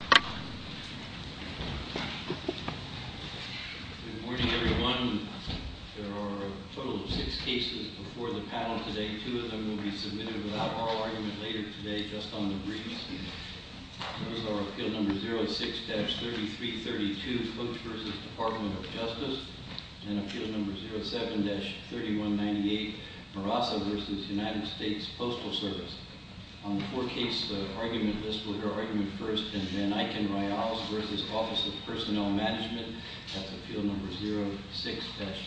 Good morning everyone. There are a total of six cases before the panel today. Two of them will be submitted without oral argument later today, just on the briefs. Those are Appeal No. 06-3332, Cook v. Department of Justice, and Appeal No. 07-3198, Marassa v. United States Postal Service. On the four-case argument list, we'll hear argument first, and then Vanieken-Ryals v. Office of Personnel Management. That's Appeal No.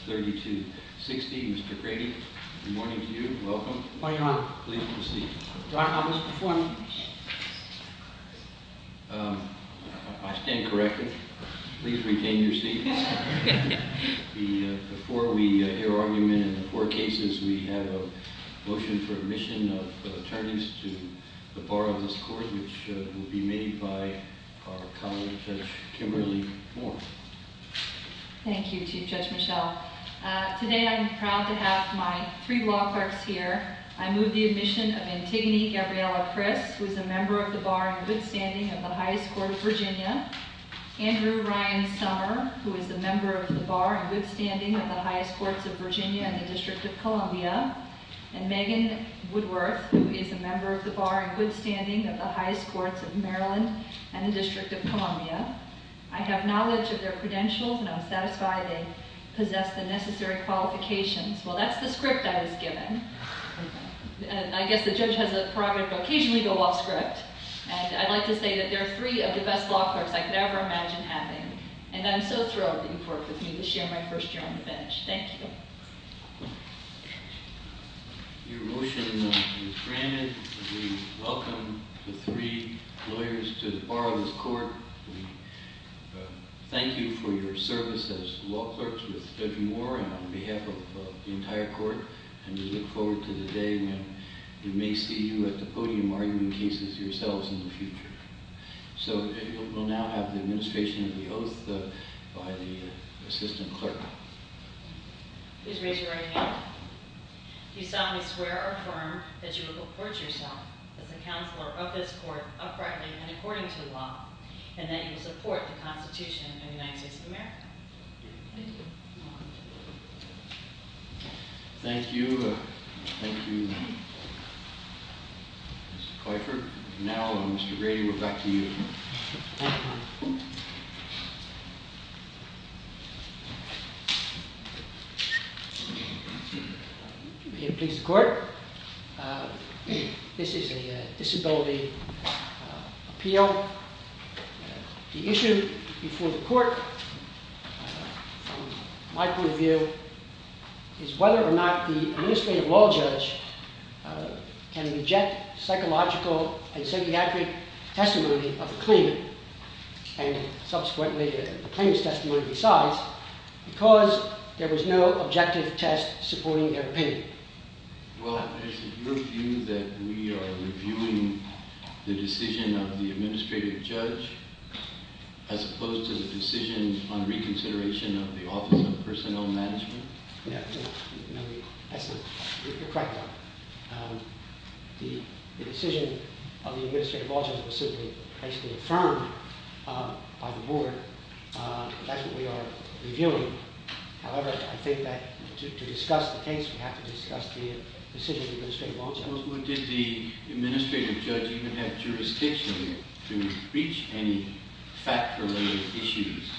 06-3260. Mr. Grady, good morning to you. Welcome. Good morning, Your Honor. Please proceed. Your Honor, I'll just perform. I stand corrected. Please retain your seats. Before we hear argument in the four cases, we have a motion for admission of attorneys to the Bar of this Court, which will be made by our colleague, Judge Kimberly Moore. Thank you, Chief Judge Michelle. Today I'm proud to have my three law clerks here. I move the admission of Antigone Gabriela Priss, who is a member of the Bar in good standing of the Highest Court of Virginia, Andrew Ryan Sommer, who is a member of the Bar in good standing of the Highest Courts of Virginia and the District of Columbia, and Megan Woodworth, who is a member of the Bar in good standing of the Highest Courts of Maryland and the District of Columbia. I have knowledge of their credentials, and I'm satisfied they possess the necessary qualifications. Well, that's the script I was given. I guess the judge has a prerogative to occasionally go off script. And I'd like to say that they're three of the best law clerks I could ever imagine having, and I'm so thrilled that you've worked with me to share my first year on the bench. Thank you. Your motion is granted. We welcome the three lawyers to the Bar of this Court. We thank you for your service as law clerks with Judge Moore and on behalf of the entire court, and we look forward to the day when we may see you at the podium arguing cases yourselves in the future. So we'll now have the administration of the oath by the assistant clerk. Please raise your right hand. Do you solemnly swear or affirm that you will report yourself as a counselor of this court uprightly and according to the law and that you will support the Constitution of the United States of America? I do. Thank you. Thank you, Mr. Kuiper. Now, Mr. Rady, we're back to you. May it please the court, this is a disability appeal. The issue before the court from my point of view is whether or not the administrative law judge can reject psychological and psychiatric testimony of the claimant and subsequently the claimant's testimony besides because there was no objective test supporting their opinion. Well, is it your view that we are reviewing the decision of the administrative judge as opposed to the decision on reconsideration of the Office of Personnel Management? No, that's not correct. The decision of the administrative law judge was simply basically affirmed by the board. That's what we are reviewing. However, I think that to discuss the case, we have to discuss the decision of the administrative law judge. Well, did the administrative judge even have jurisdiction to reach any fact-related issues?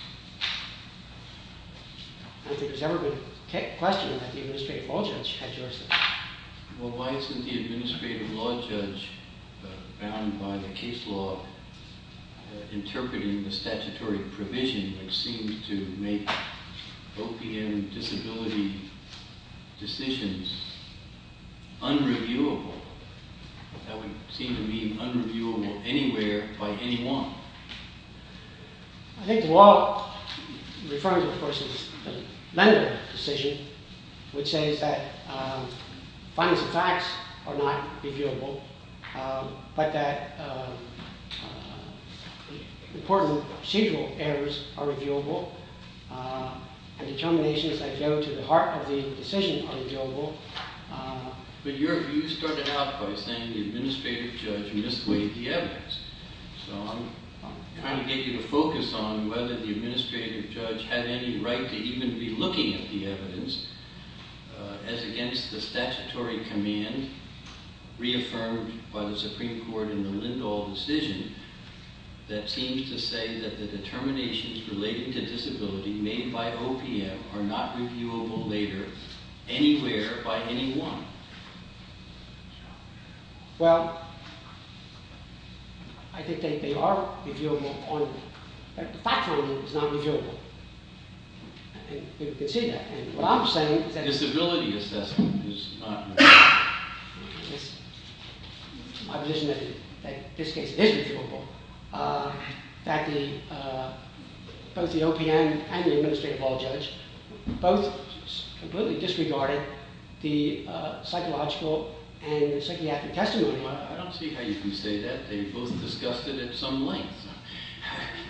I don't think there's ever been a question that the administrative law judge had jurisdiction. Well, why isn't the administrative law judge bound by the case law interpreting the statutory provision that seems to make OPM disability decisions unreviewable? That would seem to mean unreviewable anywhere by anyone. I think the law, referring to a person's medical decision, which says that findings of facts are not reviewable, but that important procedural errors are reviewable, and determinations that go to the heart of the decision are reviewable. But your view started out by saying the administrative judge mislead the evidence. So I'm trying to get you to focus on whether the administrative judge had any right to even be looking at the evidence as against the statutory command reaffirmed by the Supreme Court in the Lindahl decision that seems to say that the determinations related to disability made by OPM are not reviewable later anywhere by anyone. Well, I think they are reviewable. The fact-finding is not reviewable. You can see that. What I'm saying is that disability assessment is not reviewable. It's my position that in this case it is reviewable, that both the OPM and the administrative law judge both completely disregarded the psychological and psychiatric testimony. I don't see how you can say that. They both discussed it at some length.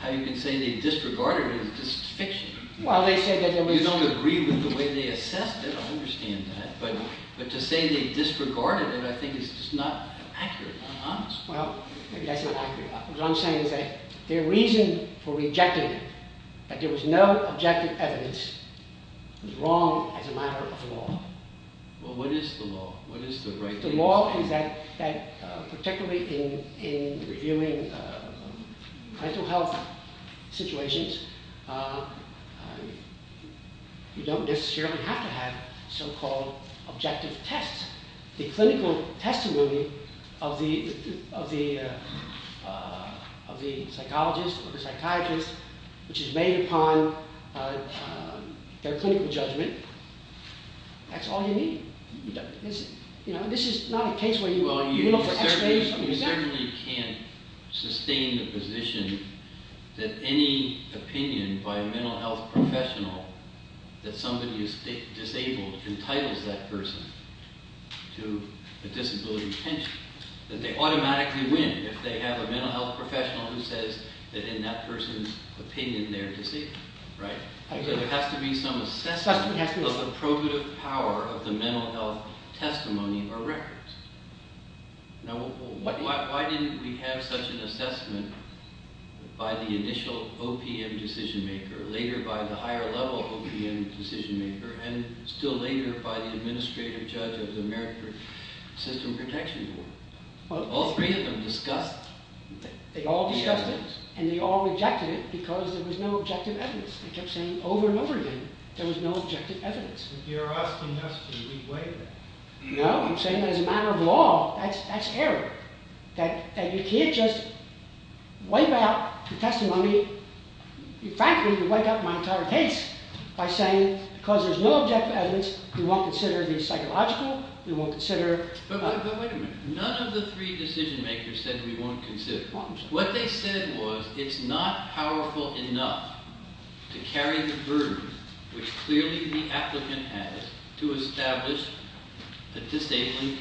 How you can say they disregarded it is just fiction. You don't agree with the way they assessed it. I understand that. But to say they disregarded it, I think, is just not accurate. Well, maybe that's not accurate. What I'm saying is that their reason for rejecting it, that there was no objective evidence, was wrong as a matter of law. Well, what is the law? The law is that particularly in reviewing mental health situations, you don't necessarily have to have so-called objective tests. The clinical testimony of the psychologist or the psychiatrist which is made upon their clinical judgment, that's all you need. This is not a case where you look for x-rays. You certainly can't sustain the position that any opinion by a mental health professional that somebody is disabled entitles that person to a disability pension. That they automatically win if they have a mental health professional who says that in that person's opinion they're disabled. There has to be some assessment of the probative power of the mental health testimony or records. Why didn't we have such an assessment by the initial OPM decision maker, later by the higher level OPM decision maker, and still later by the administrative judge of the American System Protection Board? All three of them discussed the evidence. They all discussed it and they all rejected it because there was no objective evidence. They kept saying over and over again there was no objective evidence. You're asking us to re-weigh that. No, I'm saying that as a matter of law, that's error. That you can't just wipe out the testimony. Frankly, you can wipe out my entire case by saying because there's no objective evidence we won't consider the psychological, we won't consider... But wait a minute. None of the three decision makers said we won't consider. What they said was it's not powerful enough to carry the burden which clearly the applicant has to establish a disabling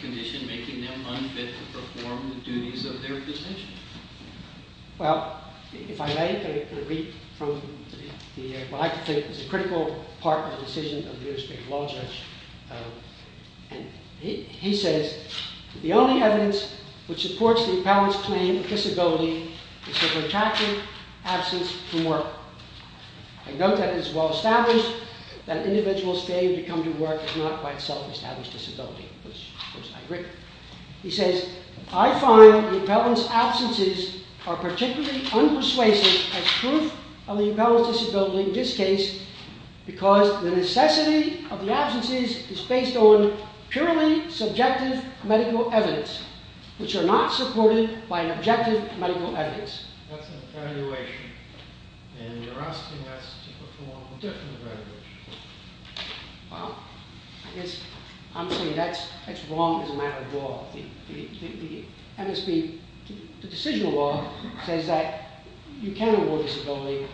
condition making them unfit to perform the duties of their position. Well, if I may, I'm going to read from what I think is a critical part of the decision of the administrative law judge. He says, the only evidence which supports the appellant's claim of disability is her protracted absence from work. I note that it is well established that an individual's failure to come to work is not quite self-established disability. Of course, I agree. He says, I find the appellant's absences are particularly unpersuasive as proof of the appellant's disability in this case because the necessity of the absences is based on purely subjective medical evidence which are not supported by objective medical evidence. That's an evaluation, and you're asking us to perform a different evaluation. Well, I guess I'm saying that's wrong as a matter of law. The MSB, the decisional law, says that you can't award disability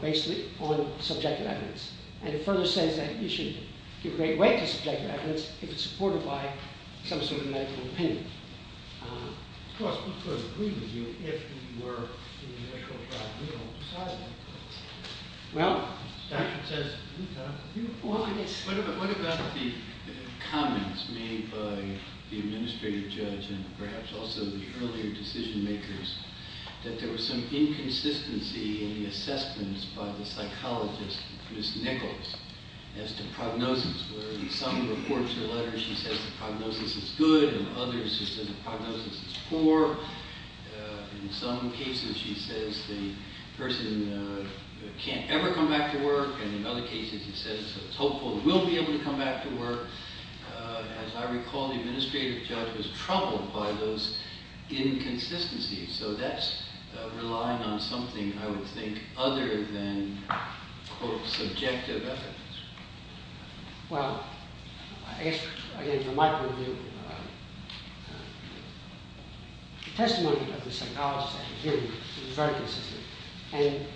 based on subjective evidence. And it further says that you should give great weight to subjective evidence if it's supported by some sort of medical opinion. Of course, we couldn't agree with you if we were in the initial trial. We don't decide that. Well, the statute says you can't afford it. What about the comments made by the administrative judge and perhaps also the earlier decision makers that there was some inconsistency in the assessments by the psychologist, Ms. Nichols, as to prognosis, where in some reports or letters she says the prognosis is good and in others she says the prognosis is poor. In some cases she says the person can't ever come back to work, and in other cases she says it's hopeful he will be able to come back to work. As I recall, the administrative judge was troubled by those inconsistencies. So that's relying on something, I would think, other than, quote, subjective evidence. Well, I guess, again, from my point of view, the testimony of the psychologist at the hearing was very consistent. And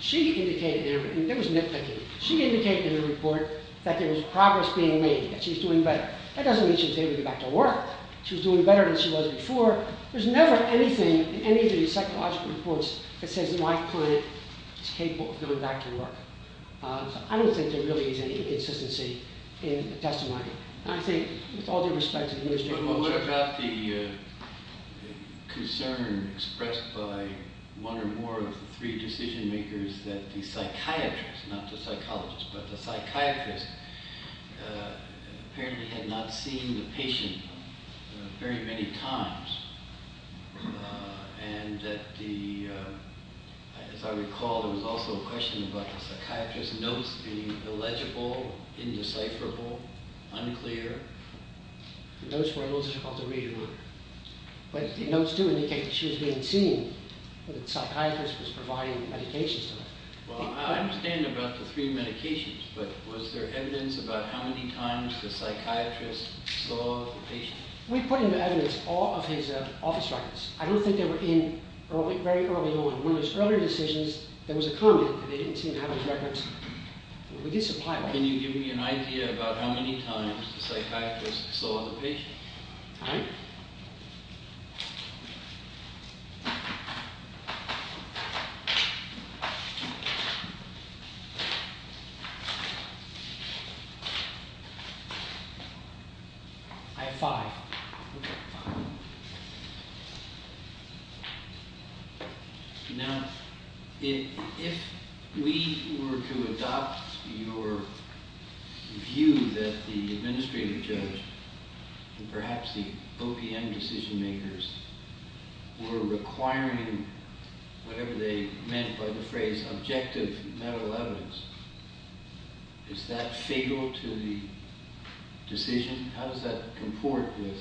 she indicated, and there was nitpicking, she indicated in the report that there was progress being made, that she's doing better. That doesn't mean she's able to go back to work. She was doing better than she was before. There's never anything in any of these psychological reports that says my client is capable of going back to work. I don't think there really is any inconsistency in the testimony. I think with all due respect to the administrative judge. But what about the concern expressed by one or more of the three decision makers that the psychiatrist, not the psychologist, but the psychiatrist apparently had not seen the patient very many times and that the, as I recall, there was also a question about the psychiatrist's notes being illegible, indecipherable, unclear. The notes were illegible. But the notes do indicate that she was being seen, that the psychiatrist was providing medications to her. Well, I understand about the three medications, but was there evidence about how many times the psychiatrist saw the patient? We put into evidence all of his office records. I don't think they were in very early on. One of his earlier decisions, there was a comment that they didn't seem to have his records. We did supply one. Can you give me an idea about how many times the psychiatrist saw the patient? All right. All right. I have five. Now, if we were to adopt your view that the administrative judge and perhaps the OPM decision makers were requiring whatever they meant by the phrase objective medical evidence, is that fatal to the decision? How does that comport with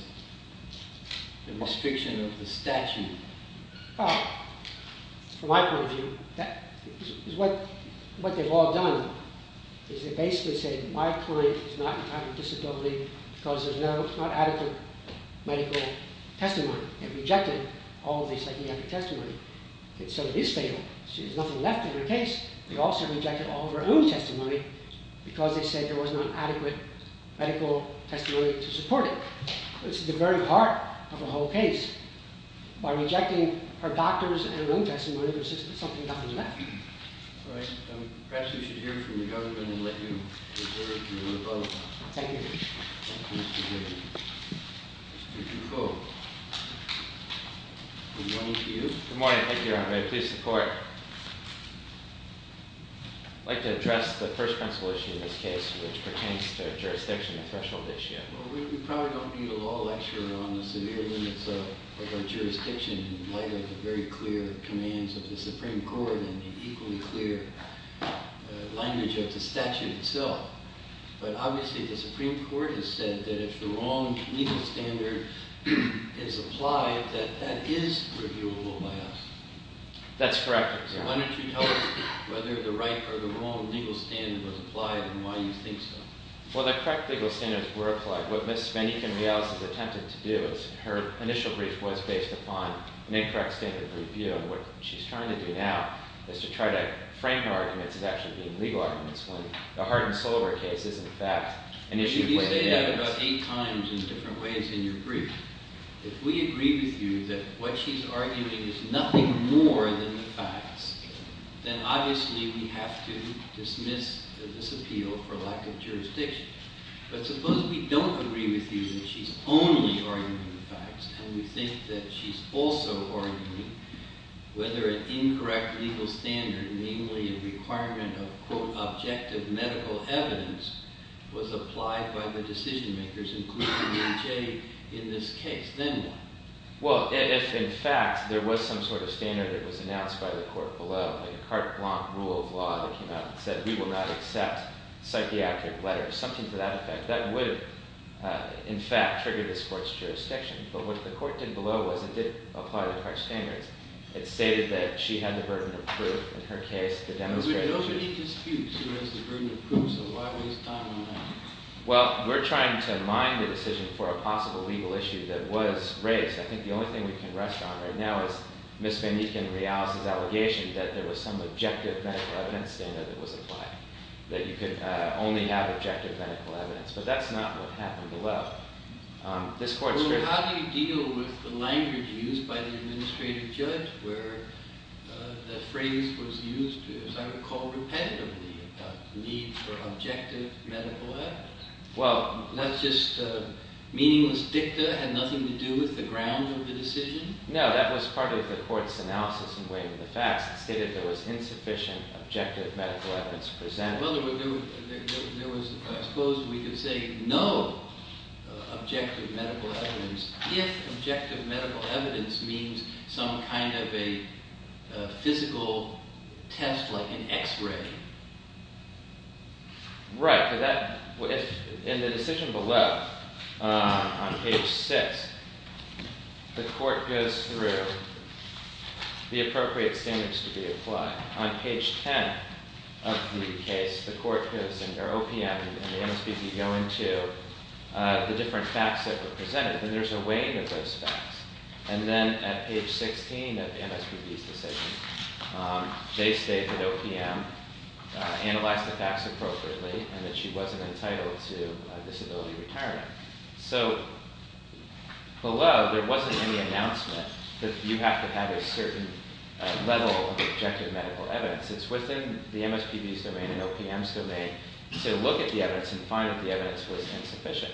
the restriction of the statute? Well, from my point of view, what they've all done is they've basically said, my client is not entitled to disability because there's not adequate medical testimony. They've rejected all of the psychiatric testimony. And so it is fatal. There's nothing left in her case. They also rejected all of her own testimony because they said there was not adequate medical testimony to support it. It's the very heart of the whole case. By rejecting her doctors and her own testimony, there's just something left. All right. Perhaps we should hear from the government and then let you return to your vote. Thank you. Thank you, Mr. Griffin. Mr. Dufault. Good morning to you. Good morning. Thank you, Your Honor. I'd like to address the first principle issue in this case, which pertains to jurisdiction and threshold issue. Well, we probably don't need a law lecture on the severe limits of our jurisdiction in light of the very clear commands of the Supreme Court and the equally clear language of the statute itself. But obviously the Supreme Court has said that if the wrong legal standard is applied, that that is reviewable by us. That's correct. So why don't you tell us whether the right or the wrong legal standard was applied and why you think so. Well, the correct legal standards were applied. What Ms. VanEken-Miaz has attempted to do is, her initial brief was based upon an incorrect standard of review and what she's trying to do now is to try to frame her arguments as actually being legal arguments when the Hardin-Solar case is, in fact, an issue placed in evidence. You say that about eight times in different ways in your brief. If we agree with you that what she's arguing is nothing more than the facts, then obviously we have to dismiss this appeal for lack of jurisdiction. But suppose we don't agree with you that she's only arguing the facts and we think that she's also arguing whether an incorrect legal standard, namely a requirement of, quote, objective medical evidence, was applied by the decision-makers, including EJ, in this case. Then what? Well, if, in fact, there was some sort of standard that was announced by the court below, like a carte blanche rule of law that came out and said, we will not accept psychiatric letters, something to that effect, that would, in fact, trigger this court's jurisdiction. But what the court did below was it did apply the carte blanche standards. It stated that she had the burden of proof in her case, the demonstration. But we don't need disputes. She has the burden of proof, so why waste time on that? Well, we're trying to mine the decision for a possible legal issue that was raised. I think the only thing we can rest on right now is Ms. VanEek and Rial's allegation that there was some objective medical evidence standard that was applied, that you could only have objective medical evidence. But that's not what happened below. Well, how do you deal with the language used by the administrative judge where the phrase was used, as I recall, repetitively, about the need for objective medical evidence? Well, Not just meaningless dicta had nothing to do with the ground of the decision? No, that was part of the court's analysis in weighing the facts. It stated there was insufficient objective medical evidence presented. I suppose we could say no objective medical evidence if objective medical evidence means some kind of a physical test, like an x-ray. Right. In the decision below, on page 6, the court goes through the appropriate standards to be applied. On page 10 of the case, the court gives an OPM and the MSPB go into the different facts that were presented, and there's a weighing of those facts. And then at page 16 of the MSPB's decision, they state that OPM analyzed the facts appropriately and that she wasn't entitled to disability retirement. So, below, there wasn't any announcement that you have to have a certain level of objective medical evidence. It's within the MSPB's domain and OPM's domain to look at the evidence and find that the evidence was insufficient.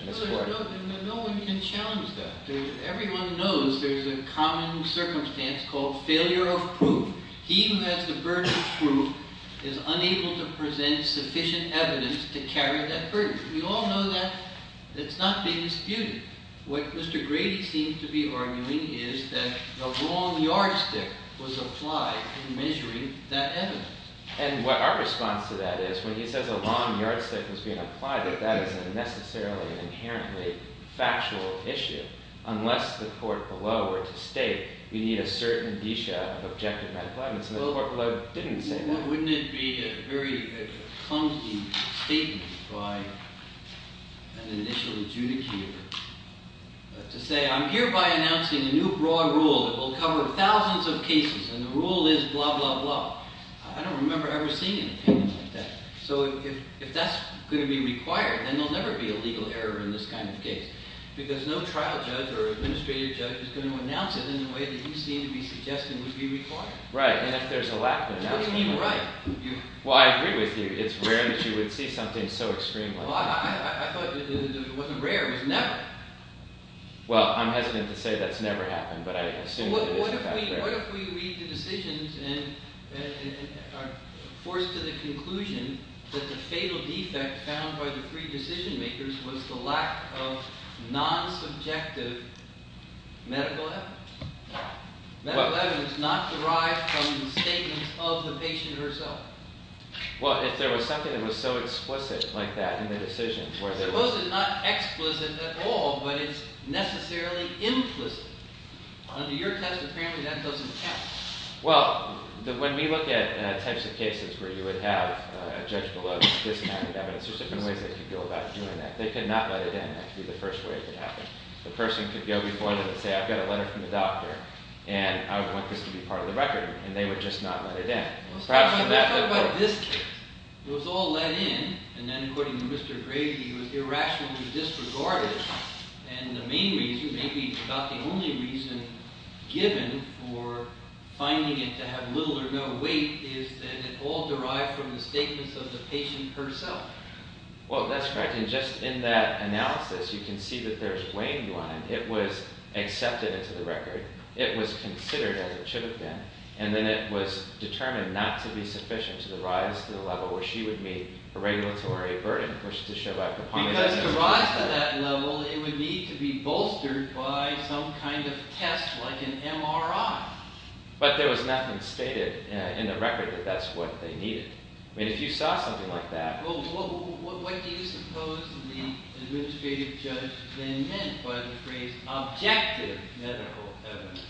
No one can challenge that. Everyone knows there's a common circumstance called failure of proof. He who has the burden of proof is unable to present sufficient evidence to carry that burden. We all know that. It's not being disputed. What Mr. Grady seems to be arguing is that a long yardstick was applied in measuring that evidence. And what our response to that is, when he says a long yardstick was being applied, that that isn't necessarily an inherently factual issue, unless the court below were to state we need a certain disha of objective medical evidence. And the court below didn't say that. Why wouldn't it be a very clunky statement by an initial adjudicator to say I'm hereby announcing a new broad rule that will cover thousands of cases and the rule is blah, blah, blah. I don't remember ever seeing an opinion like that. So, if that's going to be required, then there'll never be a legal error in this kind of case. Because no trial judge or administrative judge is going to announce it in a way that you seem to be suggesting would be required. Right. And if there's a lack there, that's even worse. What do you mean, right? Well, I agree with you. It's rare that you would see something so extreme like that. I thought it wasn't rare. It was never. Well, I'm hesitant to say that's never happened, but I assume that it is in fact rare. What if we read the decisions and are forced to the conclusion that the fatal defect found by the pre-decision makers was the lack of non-subjective medical evidence? Medical evidence not derived from the statements of the patient herself. Well, if there was something that was so explicit like that in the decision, Suppose it's not explicit at all, but it's necessarily implicit. Under your test, apparently that doesn't count. Well, when we look at types of cases where you would have a judge below this kind of evidence, there's different ways they could go about doing that. They could not let it in. That would be the first way it could happen. The person could go before them and say, I've got a letter from the doctor, and I would want this to be part of the record, and they would just not let it in. Let's talk about this case. It was all let in, and then according to Mr. Gray, he was irrationally disregarded, and the main reason, maybe about the only reason given for finding it to have little or no weight is that it all derived from the statements of the patient herself. Well, that's correct, and just in that analysis, you can see that there's weighing you on it. It was accepted into the record. It was considered as it should have been, and then it was determined not to be sufficient to the rise to the level where she would meet a regulatory burden for her to show up upon. Because to rise to that level, it would need to be bolstered by some kind of test like an MRI. But there was nothing stated in the record that that's what they needed. I mean, if you saw something like that... Well, what do you suppose the administrative judge then meant by the phrase objective medical evidence?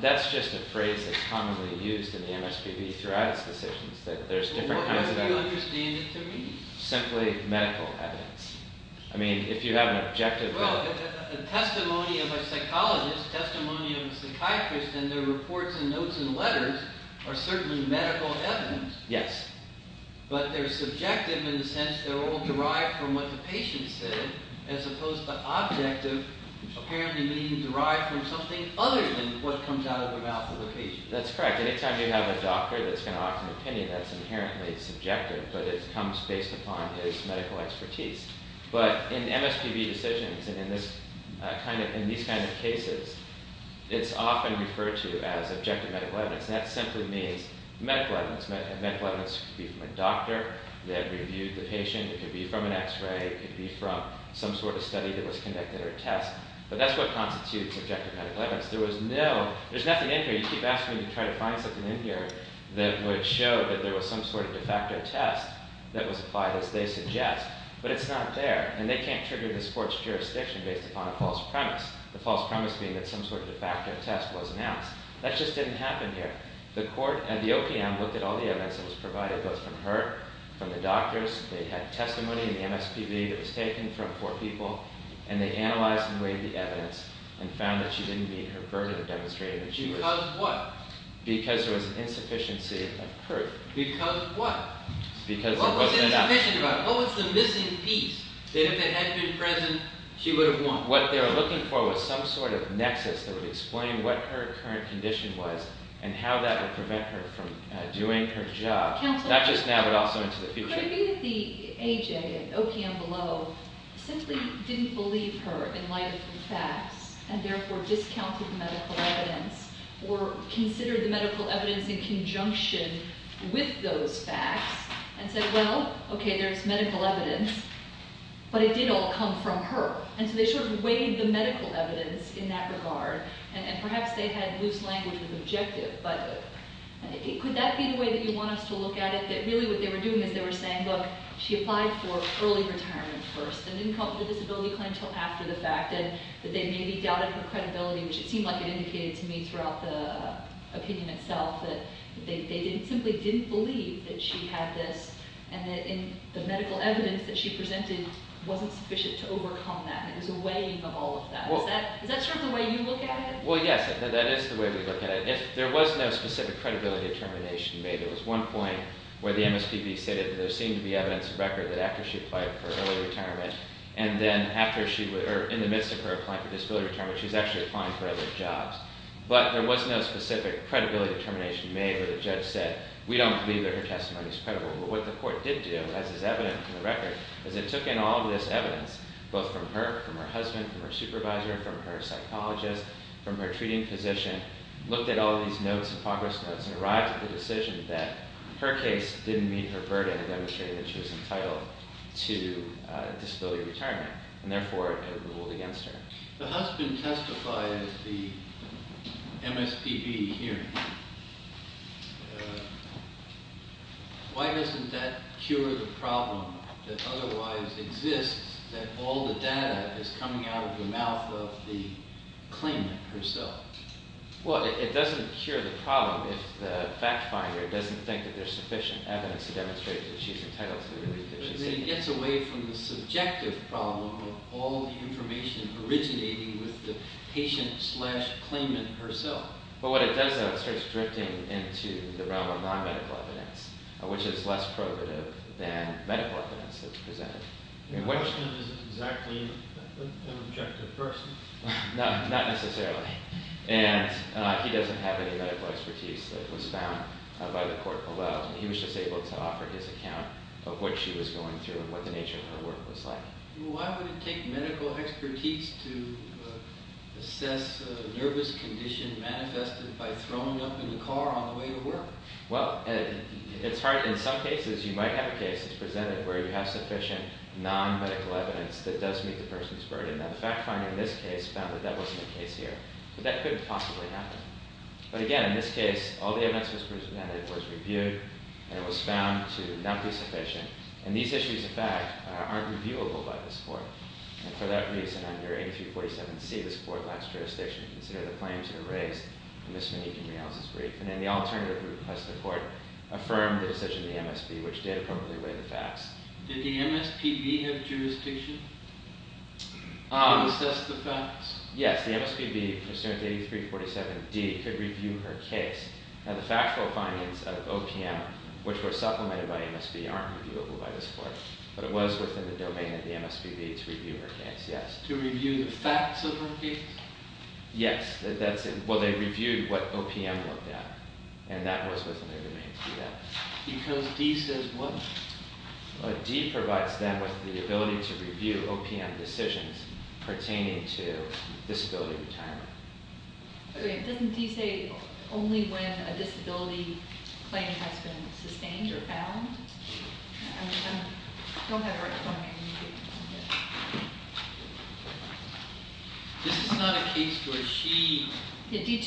That's just a phrase that's commonly used in the MSPB throughout its decisions, that there's different kinds of... Well, how do you understand it to me? Simply medical evidence. I mean, if you have an objective... Well, a testimony of a psychologist, a testimony of a psychiatrist, and their reports and notes and letters are certainly medical evidence. Yes. But they're subjective in the sense they're all derived from what the patient said, as opposed to objective, apparently meaning derived from something other than what comes out of the mouth of the patient. That's correct. Any time you have a doctor that's going to offer an opinion, that's inherently subjective, but it comes based upon his medical expertise. But in MSPB decisions and in these kinds of cases, it's often referred to as objective medical evidence. That simply means medical evidence. Medical evidence could be from a doctor that reviewed the patient. It could be from an X-ray. It could be from some sort of study that was conducted or a test. But that's what constitutes objective medical evidence. There was no... There's nothing in here. You keep asking me to try to find something in here that would show that there was some sort of de facto test that was applied, as they suggest, but it's not there, and they can't trigger this court's jurisdiction based upon a false premise, the false premise being that some sort of de facto test was announced. That just didn't happen here. The court and the OPM looked at all the evidence that was provided, both from her, from the doctors. They had testimony in the MSPB that was taken from four people, and they analyzed and weighed the evidence and found that she didn't meet her burden of demonstrating that she was... Because what? Because there was an insufficiency of proof. Because what? Because there wasn't enough... What was insufficient about it? What was the missing piece that if it had been present, she would have won? What they were looking for was some sort of nexus that would explain what her current condition was and how that would prevent her from doing her job, not just now but also into the future. Could it be that the AJ at OPM Below simply didn't believe her in light of the facts and therefore discounted the medical evidence or considered the medical evidence in conjunction with those facts and said, well, okay, there's medical evidence, but it did all come from her? And so they sort of weighed the medical evidence in that regard, and perhaps they had loose language of the objective, but could that be the way that you want us to look at it, that really what they were doing is they were saying, look, she applied for early retirement first and didn't come up with a disability claim until after the fact and that they maybe doubted her credibility, which it seemed like it indicated to me throughout the opinion itself that they simply didn't believe that she had this and that the medical evidence that she presented wasn't sufficient to overcome that and it was a weighing of all of that. Is that sort of the way you look at it? Well, yes, that is the way we look at it. There was no specific credibility determination made. There was one point where the MSPB stated that there seemed to be evidence of record that after she applied for early retirement and then in the midst of her applying for disability retirement, she was actually applying for other jobs. But there was no specific credibility determination made where the judge said, we don't believe that her testimony is credible. But what the court did do, as is evident from the record, is it took in all of this evidence, both from her, from her husband, from her supervisor, from her psychologist, from her treating physician, looked at all of these notes and progress notes and arrived at the decision that her case didn't meet her burden in demonstrating that she was entitled to disability retirement and therefore it ruled against her. The husband testified at the MSPB hearing. Why doesn't that cure the problem that otherwise exists, that all the data is coming out of the mouth of the claimant herself? Well, it doesn't cure the problem if the fact finder doesn't think that there's sufficient evidence to demonstrate that she's entitled to the relief that she's seeking. But then it gets away from the subjective problem of all the information originating with the patient-slash-claimant herself. But what it does, though, is it starts drifting into the realm of non-medical evidence, which is less probative than medical evidence that's presented. Her husband is exactly an objective person. Not necessarily. And he doesn't have any medical expertise that was found by the court below. He was just able to offer his account of what she was going through and what the nature of her work was like. Why would it take medical expertise to assess a nervous condition manifested by throwing up in the car on the way to work? Well, it's hard. In some cases, you might have a case that's presented where you have sufficient non-medical evidence that does meet the person's burden. Now, the fact finder in this case found that that wasn't the case here. But that couldn't possibly happen. But again, in this case, all the evidence that was presented was reviewed and it was found to not be sufficient. And these issues, in fact, aren't reviewable by this court. And for that reason, under 8347C, this court lacks jurisdiction to consider the claims that are raised in Ms. Monique and Ms. Riehl's brief. And then the alternative group, plus the court, affirmed the decision of the MSB, which did appropriately weigh the facts. Did the MSPB have jurisdiction to assess the facts? Yes. The MSPB, under 8347D, could review her case. Now, the factual findings of OPM, which were supplemented by MSB, aren't reviewable by this court. But it was within the domain of the MSPB to review her case, yes. To review the facts of her case? Yes. Well, they reviewed what OPM looked at. And that was within their domain to do that. Because D says what? D provides them with the ability to review OPM decisions pertaining to disability retirement. Okay. Doesn't D say only when a disability claim has been sustained or found? I don't have it right in front of me. This is not a case where she... I'm looking at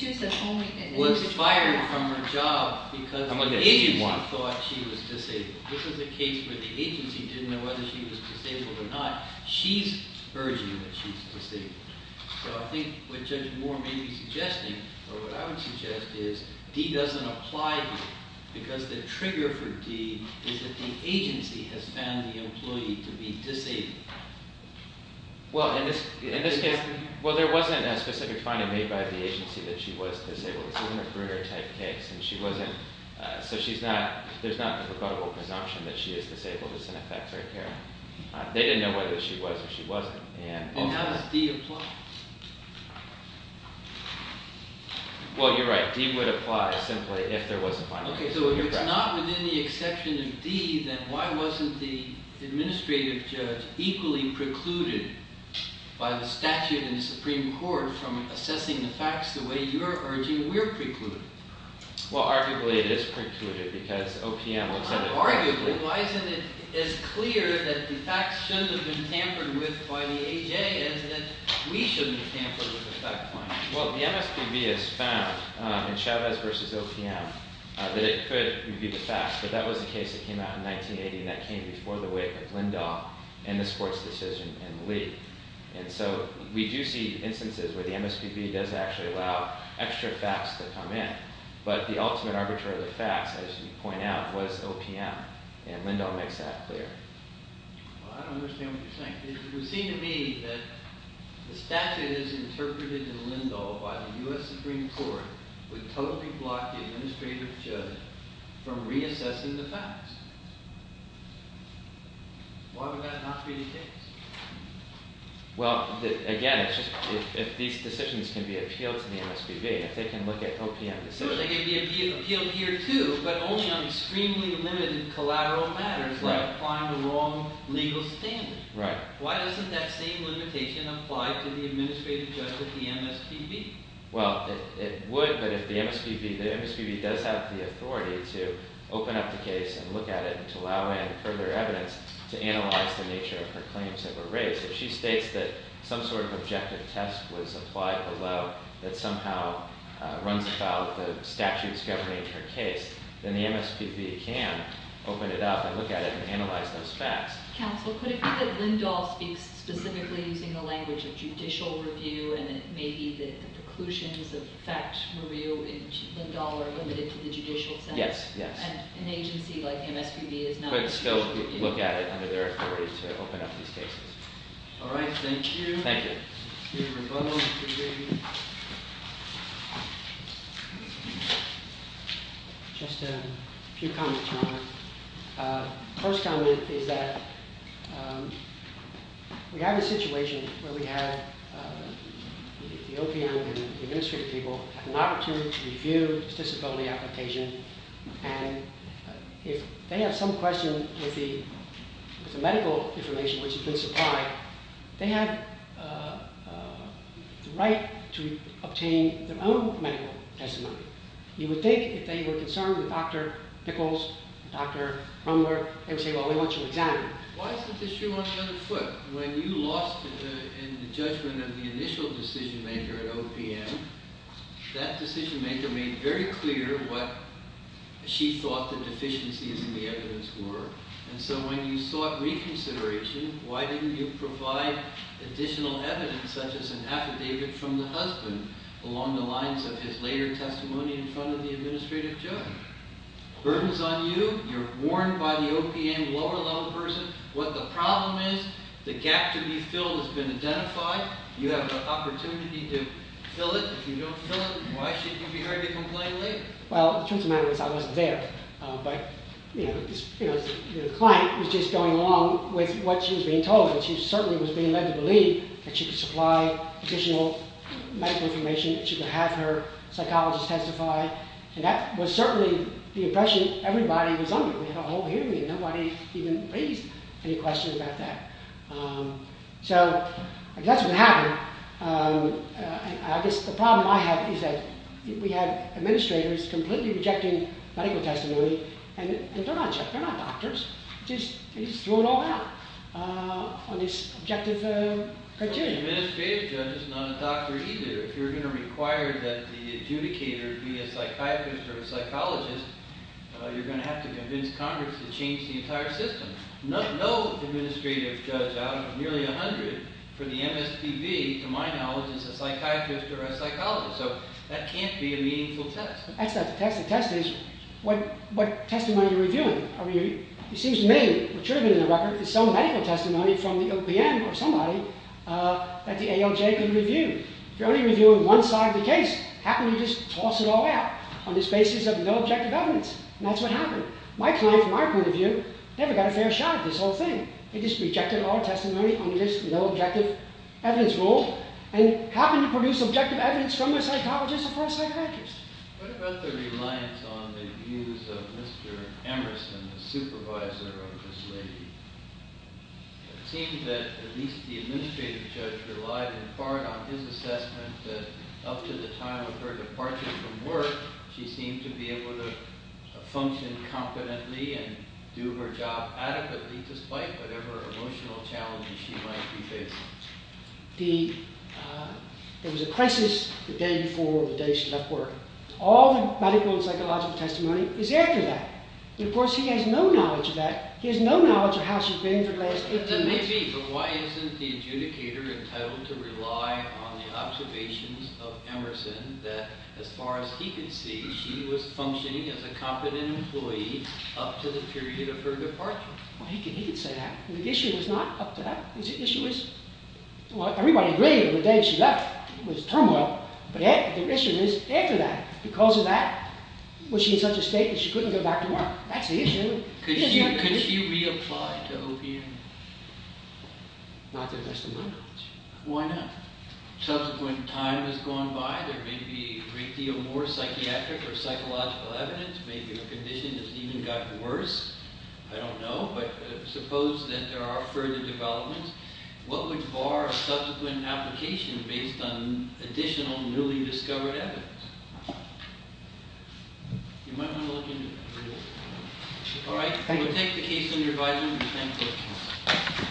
D-1. ...thought she was disabled. This is a case where the agency didn't know whether she was disabled or not. She's urging that she's disabled. So I think what Judge Moore may be suggesting, or what I would suggest, is D doesn't apply here. Because the trigger for D is that the agency has found the employee to be disabled. Well, in this case, well, there wasn't a specific finding made by the agency that she was disabled. This isn't a Brunner-type case. And she wasn't... So she's not... There's not a rebuttable presumption that she is disabled. It's in effect right here. They didn't know whether she was or she wasn't. And... And how does D apply? Well, you're right. D would apply simply if there was a finding. Okay. So if it's not within the exception of D, then why wasn't the administrative judge equally precluded by the statute in the Supreme Court from assessing the facts the way you're urging we're precluded? Well, arguably it is precluded because OPM will tell you... Well, not arguably. Why isn't it as clear that the facts shouldn't have been tampered with by the AJ as that we shouldn't have tampered with the fact-finding? Well, the MSPB has found in Chavez v. OPM that it could be the facts. But that was the case that came out in 1980, and so we do see instances where the MSPB does actually allow extra facts to come in. But the ultimate arbitrary of the facts, as you point out, was OPM, and Lindahl makes that clear. Well, I don't understand what you're saying. It would seem to me that the statute as interpreted in Lindahl by the U.S. Supreme Court would totally block the administrative judge from reassessing the facts. Why would that not be the case? Well, again, if these decisions can be appealed to the MSPB, if they can look at OPM decisions... They can be appealed here, too, but only on extremely limited collateral matters like applying the wrong legal standard. Right. Why doesn't that same limitation apply to the administrative judge of the MSPB? Well, it would, but if the MSPB... The MSPB does have the authority to open up the case and look at it and to allow in further evidence to analyze the nature of her claims that were raised. If she states that some sort of objective test was applied below that somehow runs about the statute's governing her case, then the MSPB can open it up and look at it and analyze those facts. Counsel, could it be that Lindahl speaks specifically using the language of judicial review and it may be that the preclusions of fact review in Lindahl are limited to the judicial sense? Yes, yes. And an agency like the MSPB is not... They could still look at it under their authority to open up these cases. All right. Thank you. Thank you. Just a few comments, Robert. The first comment is that we have a situation where we have the OPM and the administrative people have an opportunity to review the disability application and if they have some question with the medical information which has been supplied, they have the right to obtain their own medical testimony. You would think if they were concerned with Dr. Pickles, Dr. Rumler, they would say, well, we want you examined. Why is this issue on the other foot? When you lost in the judgment of the initial decision-maker at OPM, that decision-maker made very clear what she thought the deficiencies in the evidence were. And so when you sought reconsideration, why didn't you provide additional evidence such as an affidavit from the husband along the lines of his later testimony in front of the administrative judge? Burden's on you. You're warned by the OPM lower-level person. What the problem is, the gap to be filled has been identified. You have the opportunity to fill it. If you don't fill it, why should you be heard to complain later? Well, the truth of the matter is I wasn't there. But, you know, the client was just going along with what she was being told and she certainly was being led to believe that she could supply additional medical information, that she could have her psychologist testify, and that was certainly the impression everybody was under. We had a whole hearing and nobody even raised any questions about that. So that's what happened. I guess the problem I have is that we had administrators completely rejecting medical testimony and they're not doctors. They just threw it all out on this objective criteria. An administrative judge is not a doctor either. If you're going to require that the adjudicator be a psychiatrist or a psychologist, you're going to have to convince Congress to change the entire system. No administrative judge out of nearly a hundred for the MSTV, to my knowledge, is a psychiatrist or a psychologist. So that can't be a meaningful test. That's not the test. The test is what testimony you're reviewing. It seems to me, what should have been in the record, is some medical testimony from the OPM or somebody that the ALJ could review. If you're only reviewing one side of the case, how can you just toss it all out on this basis of no objective evidence? And that's what happened. My client, from my point of view, never got a fair shot at this whole thing. They just rejected all testimony under this no objective evidence rule and happened to produce objective evidence from a psychologist or from a psychiatrist. What about the reliance on the views of Mr. Emerson, the supervisor of Ms. Lindy? It seems that at least the administrative judge relied in part on his assessment that up to the time of her departure from work, she seemed to be able to function competently and do her job adequately despite whatever emotional challenges she might be facing. There was a crisis the day before, the day she left work. All the medical and psychological testimony is after that. Of course, he has no knowledge of that. He has no knowledge of how she's been for the last 18 months. That may be, but why isn't the adjudicator entitled to rely on the observations of Emerson that, as far as he can see, she was functioning as a competent employee up to the period of her departure? Well, he can say that. The issue is not up to that. The issue is, well, everybody agreed that the day she left was turmoil, but the issue is, after that, because of that, was she in such a state that she couldn't go back to work? That's the issue. Could she reapply to OPM? Not the rest of my knowledge. Why not? Subsequent time has gone by. There may be a great deal more psychiatric or psychological evidence. Maybe her condition has even gotten worse. I don't know. But suppose that there are further developments. What would bar a subsequent application based on additional newly discovered evidence? You might want to look into it. All right. We'll take the case under review.